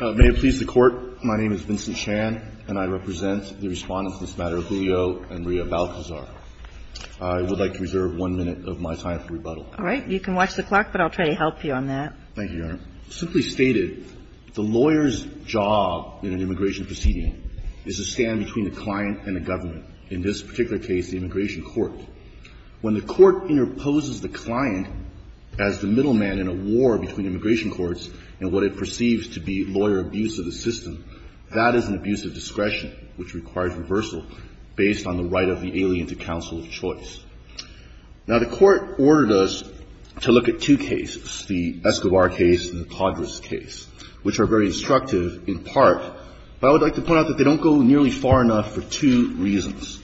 May it please the Court, my name is Vincent Chan, and I represent the respondents in this matter, Julio and Maria Balcazar. I would like to reserve one minute of my time for rebuttal. All right. You can watch the clock, but I'll try to help you on that. Thank you, Your Honor. Simply stated, the lawyer's job in an immigration proceeding is to stand between the client and the government, in this particular case, the immigration court. When the court interposes the client as the middleman in a war between immigration courts and what it perceives to be lawyer abuse of the system, that is an abuse of discretion, which requires reversal, based on the right of the alien to counsel of choice. Now, the court ordered us to look at two cases, the Escobar case and the Codras case, which are very instructive in part, but I would like to point out that they don't go nearly far enough for two reasons.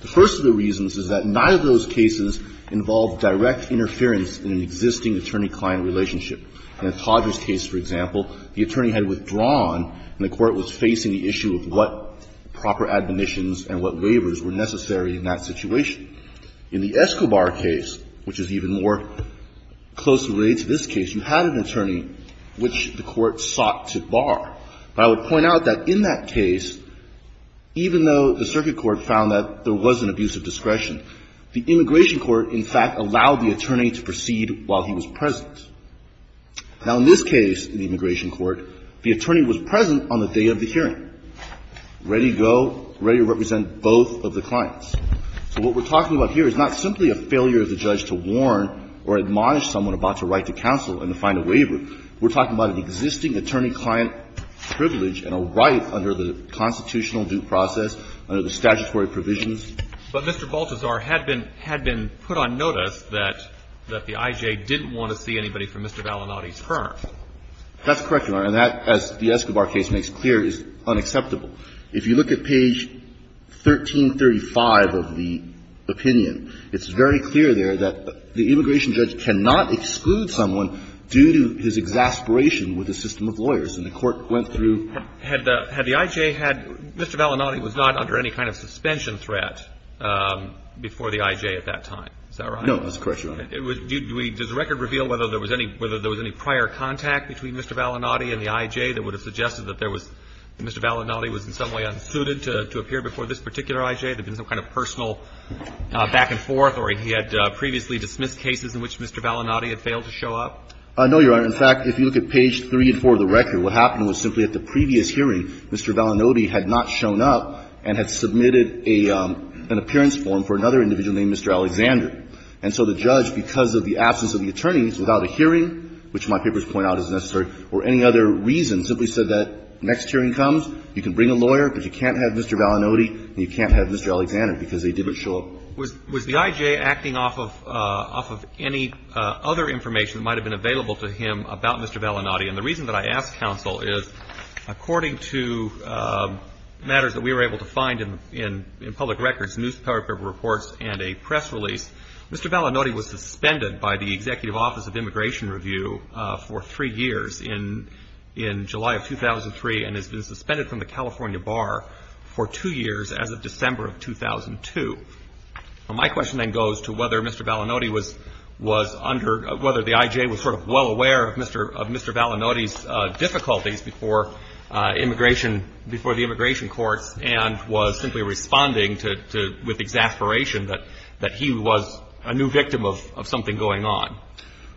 The first of the reasons is that neither of those cases involved direct interference in an existing attorney-client relationship. In the Codras case, for example, the attorney had withdrawn, and the court was facing the issue of what proper admonitions and what waivers were necessary in that situation. In the Escobar case, which is even more closely related to this case, you had an attorney which the court sought to bar. But I would point out that in that case, even though the circuit court found that there was an abuse of discretion, the immigration court, in fact, allowed the attorney to proceed while he was present. Now, in this case, in the immigration court, the attorney was present on the day of the hearing, ready to go, ready to represent both of the clients. So what we're talking about here is not simply a failure of the judge to warn or admonish someone about a right to counsel and to find a waiver. We're talking about an existing attorney-client privilege and a right under the constitutional due process, under the statutory provisions. But Mr. Baltazar had been put on notice that the I.J. didn't want to see anybody from Mr. Vallinati's firm. That's correct, Your Honor. And that, as the Escobar case makes clear, is unacceptable. If you look at page 1335 of the opinion, it's very clear there that the immigration judge cannot exclude someone due to his exasperation with the system of lawyers. And the court went through and found that Mr. Vallinati was not under any kind of suspension threat before the I.J. at that time. Is that right? No, that's correct, Your Honor. Does the record reveal whether there was any prior contact between Mr. Vallinati and the I.J. that would have suggested that there was Mr. Vallinati was in some way unsuited to appear before this particular I.J.? There had been some kind of personal back and forth, or he had previously dismissed cases in which Mr. Vallinati had failed to show up? No, Your Honor. In fact, if you look at page 3 and 4 of the record, what happened was simply at the previous hearing, Mr. Vallinati had not shown up and had submitted an appearance form for another individual named Mr. Alexander. And so the judge, because of the absence of the attorneys, without a hearing, which my papers point out is necessary, or any other reason, simply said that next hearing comes, you can bring a lawyer, but you can't have Mr. Vallinati and you can't have Mr. Alexander because they didn't show up. Was the I.J. acting off of any other information that might have been available to him about Mr. Vallinati? And the reason that I ask, counsel, is according to matters that we were able to find in public records, newspaper reports, and a press release, Mr. Vallinati was suspended by the Executive Office of Immigration Review for three years in July of 2003 and has been suspended from the California bar for two years as of December of 2002. Now, my question then goes to whether Mr. Vallinati was under, whether the I.J. was sort of well aware of Mr. Vallinati's difficulties before immigration, before the immigration courts and was simply responding to, with exasperation that he was a new victim of something going on.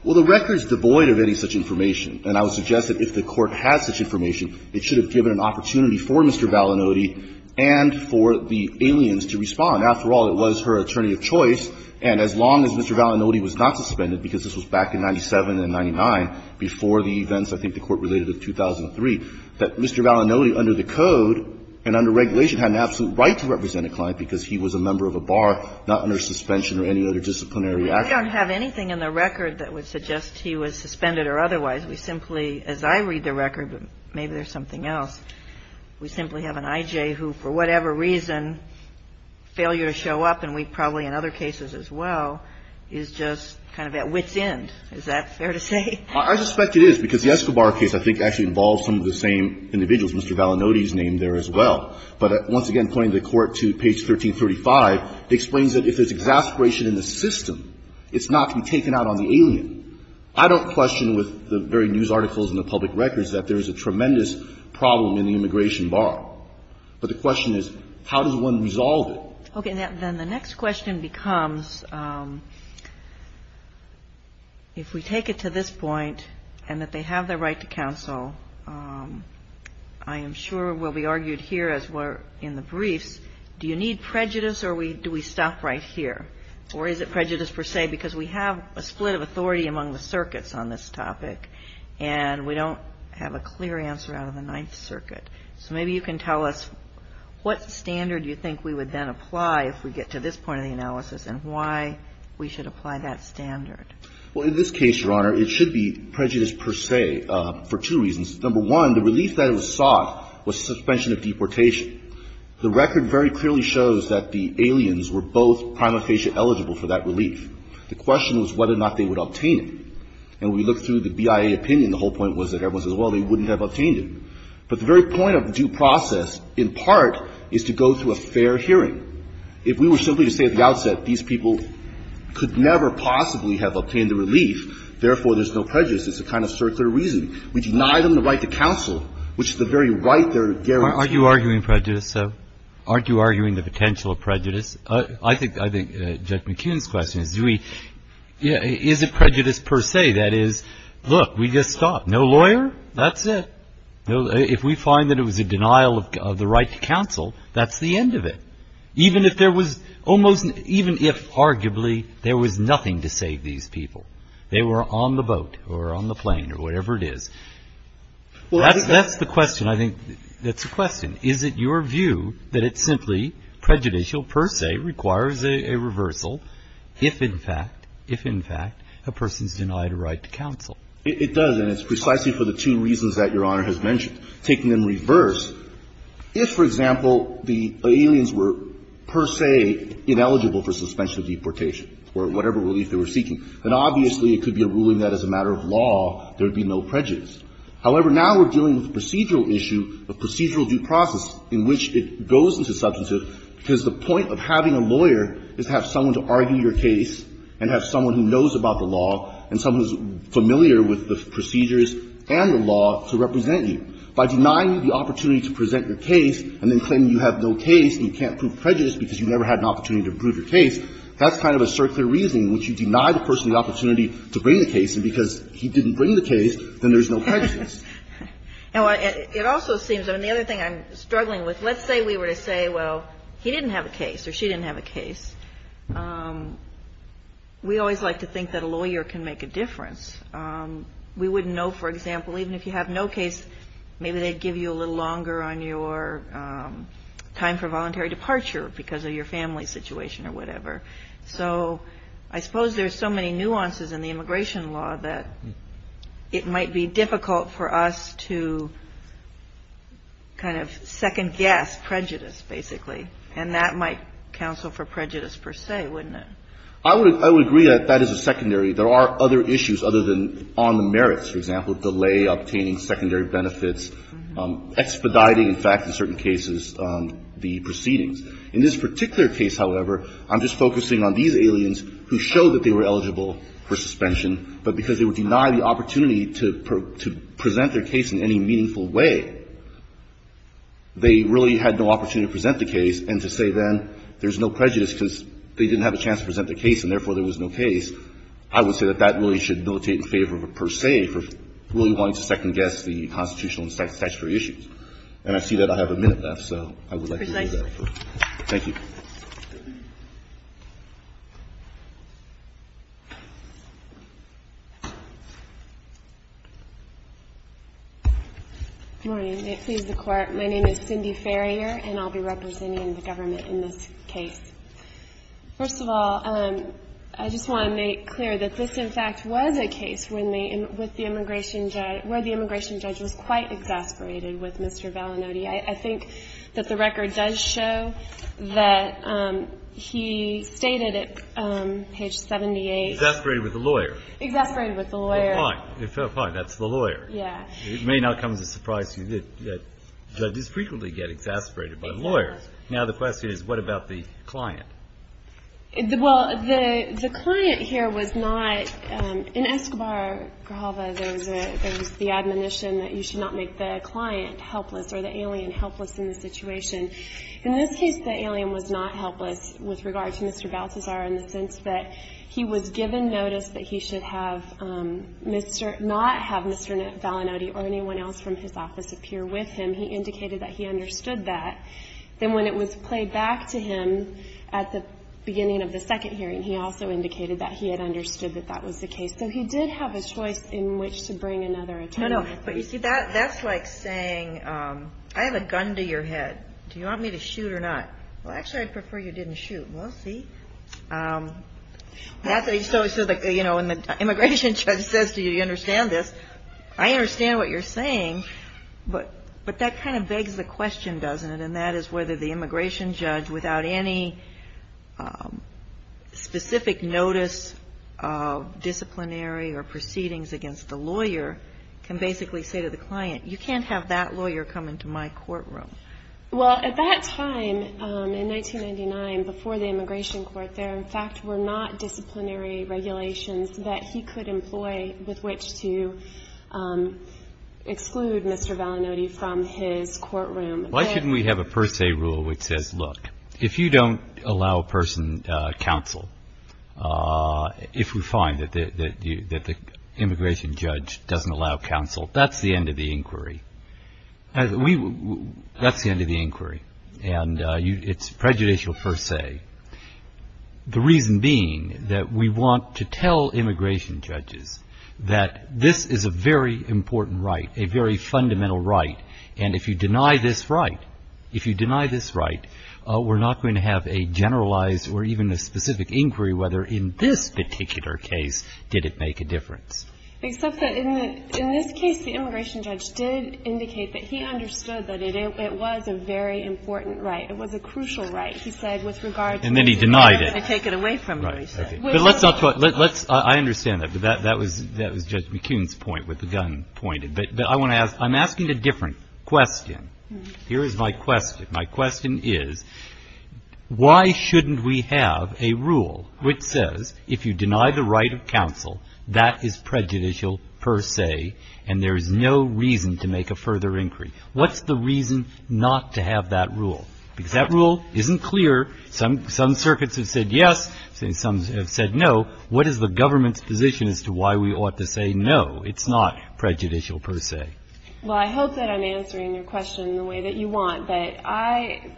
Well, the record is devoid of any such information, and I would suggest that if the Court has such information, it should have given an opportunity for Mr. Vallinati and for the aliens to respond. After all, it was her attorney of choice, and as long as Mr. Vallinati was not suspended, because this was back in 97 and 99, before the events I think the Court related of 2003, that Mr. Vallinati, under the code and under regulation, had an absolute right to represent a client because he was a member of a bar, not under suspension or any other disciplinary action. We don't have anything in the record that would suggest he was suspended or otherwise. We simply, as I read the record, but maybe there's something else, we simply have an I.J. who, for whatever reason, failure to show up, and we probably in other cases as well, is just kind of at wit's end. Is that fair to say? I suspect it is, because the Escobar case I think actually involves some of the same individuals. Mr. Vallinati is named there as well. But once again, pointing the Court to page 1335, it explains that if there's exasperation in the system, it's not to be taken out on the alien. I don't question with the very news articles and the public records that there is a tremendous problem in the immigration bar. But the question is, how does one resolve it? Okay. Then the next question becomes, if we take it to this point and that they have the right to counsel, I am sure will be argued here as we're in the briefs, do you need prejudice or do we stop right here? Or is it prejudice per se, because we have a split of authority among the circuits on this topic, and we don't have a clear answer out of the Ninth Circuit. So maybe you can tell us what standard you think we would then apply if we get to this point of the analysis and why we should apply that standard. Well, in this case, Your Honor, it should be prejudice per se for two reasons. Number one, the relief that was sought was suspension of deportation. The record very clearly shows that the aliens were both prima facie eligible for that relief. The question was whether or not they would obtain it. And when we looked through the BIA opinion, the whole point was that everyone says, well, they wouldn't have obtained it. But the very point of due process, in part, is to go through a fair hearing. If we were simply to say at the outset, these people could never possibly have obtained the relief, therefore, there's no prejudice, it's a kind of circular reason. We deny them the right to counsel, which is the very right there to guarantee. Aren't you arguing prejudice, though? Aren't you arguing the potential of prejudice? I think Judge McKeon's question is, do we – is it prejudice per se? That is, look, we just stopped. No lawyer, that's it. If we find that it was a denial of the right to counsel, that's the end of it, even if there was almost – even if, arguably, there was nothing to save these people. They were on the boat or on the plane or whatever it is. That's the question. I think that's the question. Is it your view that it's simply prejudicial per se, requires a reversal, if, in fact, if, in fact, a person's denied a right to counsel? It does, and it's precisely for the two reasons that Your Honor has mentioned. Taking them in reverse, if, for example, the aliens were per se ineligible for suspension of deportation or whatever relief they were seeking, then obviously it could be a ruling that, as a matter of law, there would be no prejudice. However, now we're dealing with a procedural issue of procedural due process in which it goes into substantive because the point of having a lawyer is to have someone to argue your case and have someone who knows about the law and someone who's familiar with the procedures and the law to represent you. By denying you the opportunity to present your case and then claiming you have no case and you can't prove prejudice because you never had an opportunity to prove your case, then there's no prejudice. And it also seems, and the other thing I'm struggling with, let's say we were to say, well, he didn't have a case or she didn't have a case. We always like to think that a lawyer can make a difference. We wouldn't know, for example, even if you have no case, maybe they'd give you a little longer on your time for voluntary departure because of your family situation that it might be difficult for us to kind of second-guess prejudice, basically. And that might counsel for prejudice, per se, wouldn't it? I would agree that that is a secondary. There are other issues other than on the merits, for example, delay, obtaining secondary benefits, expediting, in fact, in certain cases, the proceedings. In this particular case, however, I'm just focusing on these aliens who show that they were eligible for suspension, but because they would deny the opportunity to present their case in any meaningful way, they really had no opportunity to present the case and to say, then, there's no prejudice because they didn't have a chance to present their case and, therefore, there was no case. I would say that that really should notate in favor, per se, for really wanting to second-guess the constitutional and statutory issues. And I see that I have a minute left, so I would like to do that. Thank you. Good morning. May it please the Court. My name is Cindy Farrier, and I'll be representing the government in this case. First of all, I just want to make clear that this, in fact, was a case where the immigration judge was quite exasperated with Mr. Vallinotti. I think that the record does show that he stated at page 78. Exasperated with the lawyer. Exasperated with the lawyer. Fair point. Fair point. That's the lawyer. Yeah. It may not come as a surprise to you that judges frequently get exasperated by lawyers. Now, the question is, what about the client? Well, the client here was not – in Escobar-Grijalva, there was the admonition that you should not make the client helpless or the alien helpless in the situation. In this case, the alien was not helpless with regard to Mr. Balthazar in the sense that he was given notice that he should have Mr. – not have Mr. Vallinotti or anyone else from his office appear with him. He indicated that he understood that. Then when it was played back to him at the beginning of the second hearing, he also indicated that he had understood that that was the case. So he did have a choice in which to bring another attorney. No, no. But you see, that's like saying, I have a gun to your head. Do you want me to shoot or not? Well, actually, I'd prefer you didn't shoot. Well, let's see. So, you know, when the immigration judge says to you, you understand this, I understand what you're saying, but that kind of begs the question, doesn't it? And that is whether the immigration judge, without any specific notice of disciplinary or proceedings against the lawyer, can basically say to the client, you can't have that lawyer come into my courtroom. Well, at that time, in 1999, before the immigration court, there, in fact, were not disciplinary regulations that he could employ with which to exclude Mr. Vallinotti from his courtroom. Why shouldn't we have a per se rule which says, look, if you don't allow a person counsel, if we find that the immigration judge doesn't allow counsel, that's the end of the inquiry. That's the end of the inquiry. And it's prejudicial per se. The reason being that we want to tell immigration judges that this is a very important right, a very fundamental right, and if you deny this right, if you deny this right, we're not going to have a generalized or even a specific inquiry whether, in this particular case, did it make a difference. Except that, in this case, the immigration judge did indicate that he understood that it was a very important right. It was a crucial right. He said, with regard to immigration. And then he denied it. They're going to take it away from immigration. Right. Okay. But let's not talk, let's, I understand that. But that was Judge McCune's point with the gun pointed. But I want to ask, I'm asking a different question. Here is my question. My question is, why shouldn't we have a rule which says, if you deny the right of counsel, that is prejudicial per se, and there is no reason to make a further inquiry? What's the reason not to have that rule? Because that rule isn't clear. Some circuits have said yes. Some have said no. What is the government's position as to why we ought to say, no, it's not prejudicial per se? Well, I hope that I'm answering your question in the way that you want. But I,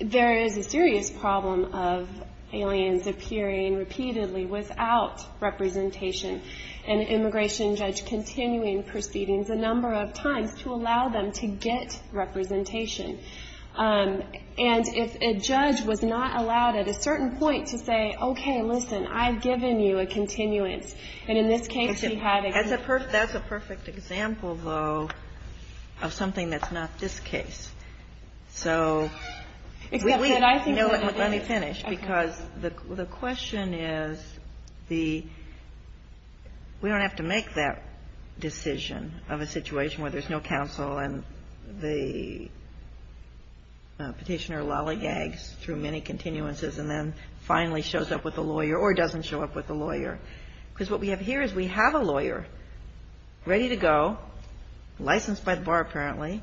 there is a serious problem of aliens appearing repeatedly without representation. An immigration judge continuing proceedings a number of times to allow them to get representation. And if a judge was not allowed at a certain point to say, okay, listen, I've given you a continuance. And in this case, we had a case. But that's a perfect example, though, of something that's not this case. So, you know, let me finish. Because the question is, the, we don't have to make that decision of a situation where there's no counsel, and the Petitioner lollygags through many continuances and then finally shows up with a lawyer or doesn't show up with a lawyer. Because what we have here is we have a lawyer ready to go, licensed by the bar apparently.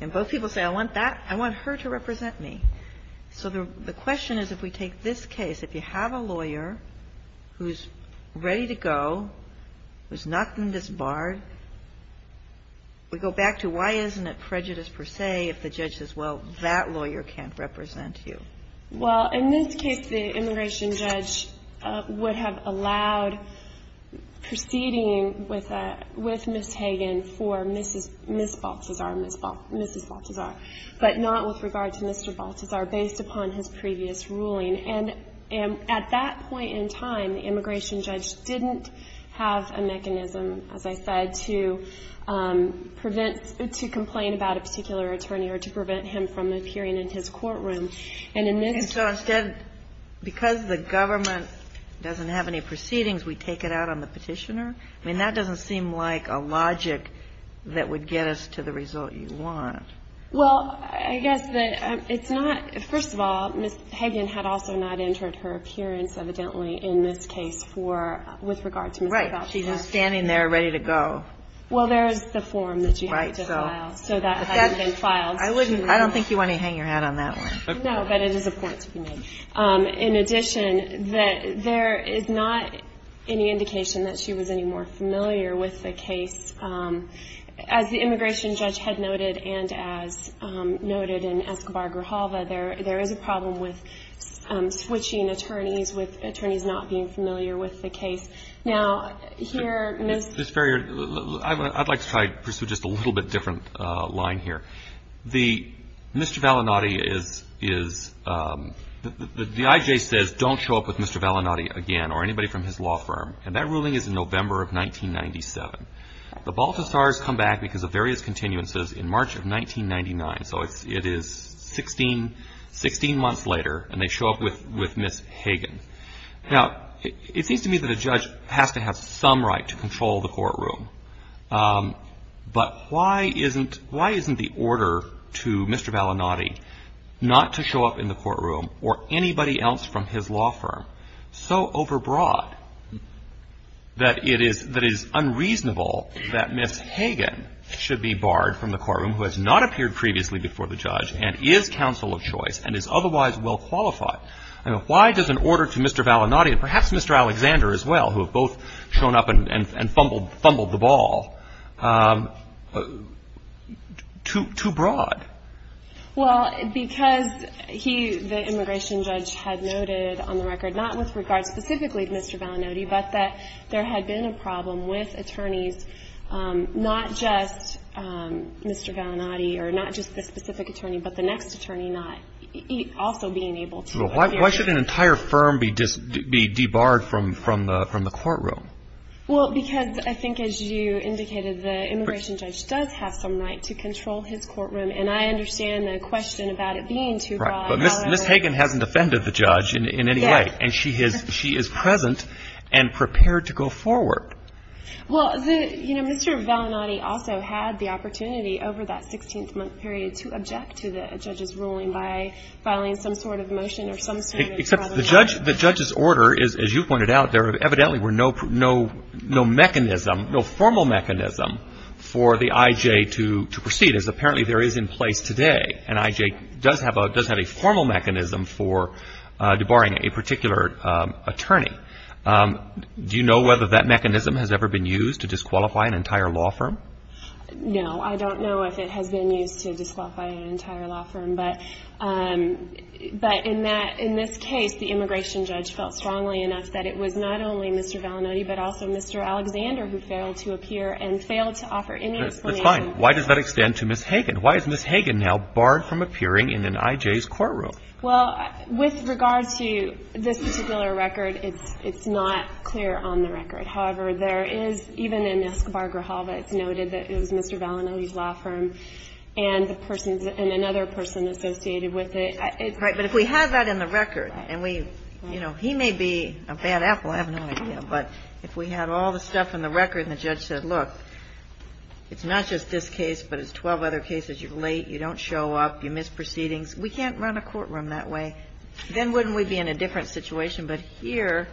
And both people say, I want that, I want her to represent me. So the question is, if we take this case, if you have a lawyer who's ready to go, who's not been disbarred, we go back to why isn't it prejudice per se if the judge says, well, that lawyer can't represent you? Well, in this case, the immigration judge would have allowed proceeding with Ms. Hagan for Ms. Baltazar, but not with regard to Mr. Baltazar, based upon his previous ruling. And at that point in time, the immigration judge didn't have a mechanism, as I said, to prevent, to complain about a particular attorney or to prevent him from appearing in his courtroom. And in this case... And so instead, because the government doesn't have any proceedings, we take it out on the petitioner? I mean, that doesn't seem like a logic that would get us to the result you want. Well, I guess that it's not. First of all, Ms. Hagan had also not entered her appearance, evidently, in this case for, with regard to Mr. Baltazar. Right. She's just standing there ready to go. Well, there's the form that you have to file. Right. So that hasn't been filed. I don't think you want to hang your hat on that one. No, but it is a point to be made. In addition, there is not any indication that she was any more familiar with the case. As the immigration judge had noted and as noted in Escobar-Grijalva, there is a problem with switching attorneys, with attorneys not being familiar with the case. Now, here, Ms.... Ms. Ferrier, I'd like to try to pursue just a little bit different line here. The... Mr. Vallinati is... The IJ says don't show up with Mr. Vallinati again or anybody from his law firm. And that ruling is in November of 1997. The Baltazars come back because of various continuances in March of 1999. So it is 16 months later and they show up with Ms. Hagan. Now, it seems to me that a judge has to have some right to control the courtroom. But why isn't... Why isn't the order to Mr. Vallinati not to show up in the courtroom or anybody else from his law firm so overbroad that it is unreasonable that Ms. Hagan should be barred from the courtroom who has not appeared previously before the judge and is counsel of choice and is otherwise well qualified? Why does an order to Mr. Vallinati and perhaps Mr. Alexander as well, who have both shown up and fumbled the ball, too broad? Well, because he, the immigration judge, had noted on the record not with regard specifically to Mr. Vallinati but that there had been a problem with attorneys not just Mr. Vallinati or not just the specific attorney but the next attorney not also being able to appear. Why should an entire firm be debarred from the courtroom? Well, because I think as you indicated, the immigration judge does have some right to control his courtroom and I understand the question about it being too broad. But Ms. Hagan hasn't offended the judge in any way and she is present and prepared to go forward. Well, you know, Mr. Vallinati also had the opportunity over that 16-month period to object to the judge's ruling by filing some sort of motion or some sort of... Except the judge's order, as you pointed out, there evidently were no mechanism, no formal mechanism for the I.J. to proceed as apparently there is in place today and I.J. does have a formal mechanism for debarring a particular attorney. Do you know whether that mechanism has ever been used to disqualify an entire law firm? No, I don't know if it has been used to disqualify an entire law firm but in this case, the immigration judge felt strongly enough that it was not only Mr. Vallinati but also Mr. Alexander who failed to appear and failed to offer any explanation. That's fine. Why does that extend to Ms. Hagan? Why is Ms. Hagan now barred from appearing in an I.J.'s courtroom? Well, with regard to this particular record, it's not clear on the record. However, there is, even in Escobar-Grijalva, it's noted that it was Mr. Vallinati's law firm and another person associated with it. Right, but if we had that in the record and we, you know, he may be a bad apple, I have no idea, but if we had all the stuff in the record and the judge said, look, it's not just this case but it's 12 other cases, you're late, you don't show up, you missed proceedings, we can't run a courtroom that way, then wouldn't we be in a different situation? But here,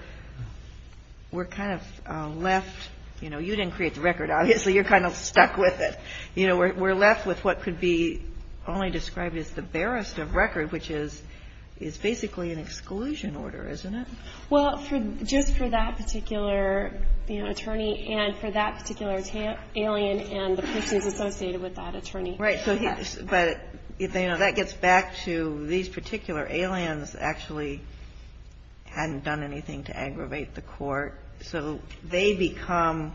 we're kind of left, you know, we didn't create the record, obviously, you're kind of stuck with it. You know, we're left with what could be only described as the barest of record, which is basically an exclusion order, isn't it? Well, just for that particular attorney and for that particular alien and the persons associated with that attorney. Right, but that gets back to these particular aliens actually hadn't done anything to aggravate the court, so they become,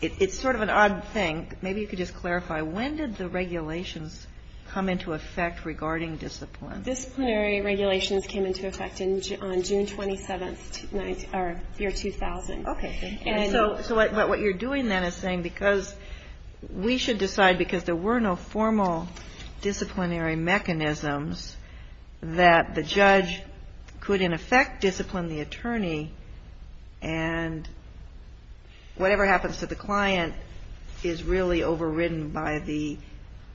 it's sort of an odd thing, maybe you could just clarify, when did the regulations come into effect regarding discipline? Disciplinary regulations came into effect on June 27th, year 2000. Okay, so what you're doing then is saying because we should decide because there were no formal disciplinary mechanisms that the judge could in effect discipline the attorney and whatever happens to the client is really overridden by the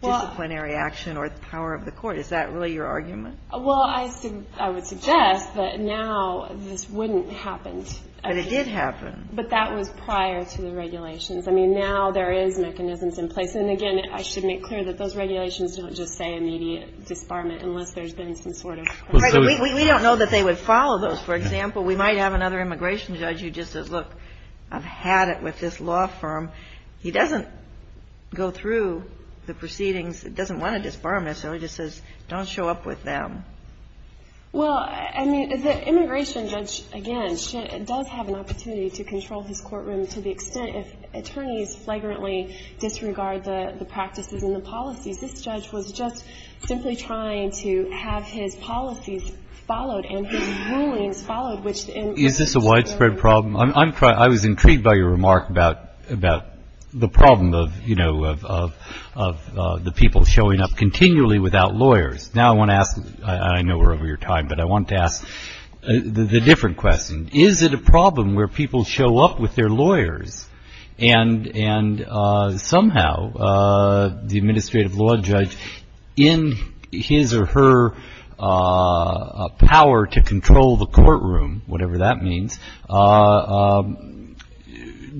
disciplinary action or the power of the court. Is that really your argument? Well, I would suggest that now this wouldn't have happened. But it did happen. But that was prior to the regulations. I mean, now there is mechanisms in place, and again, I should make clear that those regulations don't just say immediate disbarment unless there's been some sort of... We don't know that they would follow those. For example, we might have another immigration judge who just says, look, I've had it with this law firm. He doesn't go through the proceedings. He doesn't want to disbar them necessarily. He just says, don't show up with them. Well, I mean, the immigration judge, again, does have an opportunity to control his courtroom to the extent if attorneys flagrantly disregard the practices and the policies. This judge was just simply trying to have his policies followed and his rulings followed. Is this a widespread problem? I was intrigued by your remark about the problem of the people showing up continually without lawyers. Now I want to ask, I know we're over your time, but I want to ask the different question. Is it a problem where people show up with their lawyers and somehow the administrative law judge in his or her power to control the courtroom, whatever that means,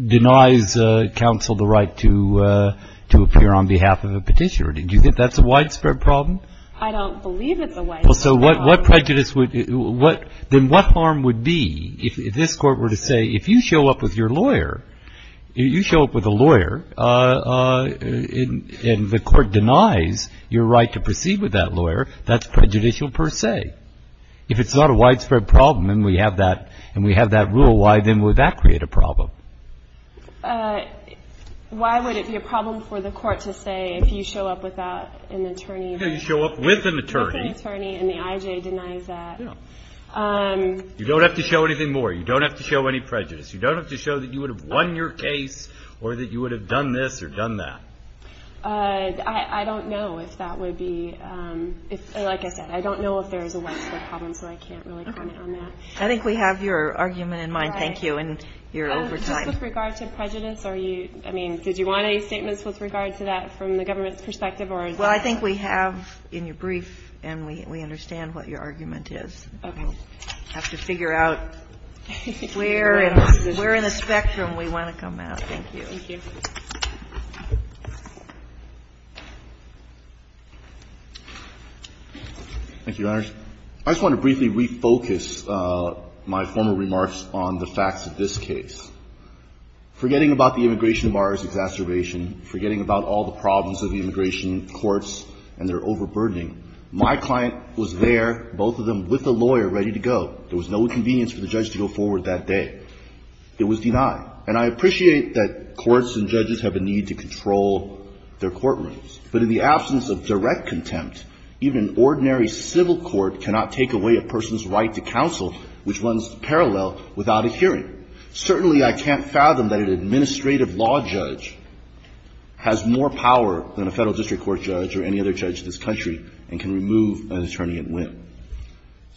denies counsel the right to appear on behalf of a petitioner? Do you think that's a widespread problem? I don't believe it's a widespread problem. Then what harm would be if this court were to say, if you show up with your lawyer, you show up with a lawyer and the court denies your right to proceed with that lawyer, that's prejudicial per se? If it's not a widespread problem and we have that rule, why then would that create a problem? Why would it be a problem for the court to say if you show up with an attorney and the IJ denies that? You don't have to show anything more. You don't have to show any prejudice. You don't have to show that you would have won your case or that you would have done this or done that. I don't know if that would be, like I said, I don't know if there's a widespread problem so I can't really comment on that. I think we have your argument in mind, thank you. Just with regard to prejudice, did you want any statements with regard to that from the government's perspective? I think we have in your brief and we understand what your argument is. We'll have to figure out where in the spectrum we want to come at. Thank you, Your Honor. I just want to briefly refocus my former remarks on the facts of this case. Forgetting about the immigration of ours exacerbation, forgetting about all the problems of the immigration courts and their overburdening, my client was there, both of them with a lawyer, ready to go. There was no inconvenience for the judge to go forward that day. It was denied. And I appreciate that courts and judges have a need to control their courtrooms. But in the absence of direct contempt, even an ordinary civil court cannot take away a person's right to counsel which runs parallel without a hearing. Certainly I can't fathom that an administrative law judge has more power than a federal district court judge or any other judge in this country and can remove an attorney at will.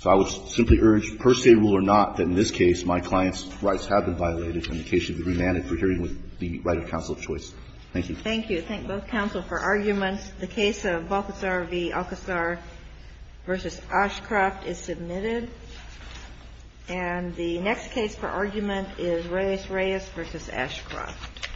So I would simply urge, per say rule or not, that in this case my client's rights have been violated and the case should be remanded for hearing with the right of counsel of choice. Thank you. Thank you. I thank both counsel for arguments. The case of Balthazar v. Alcasar v. Ashcroft is submitted. And the next case for argument is Reyes v. Ashcroft. Thank you.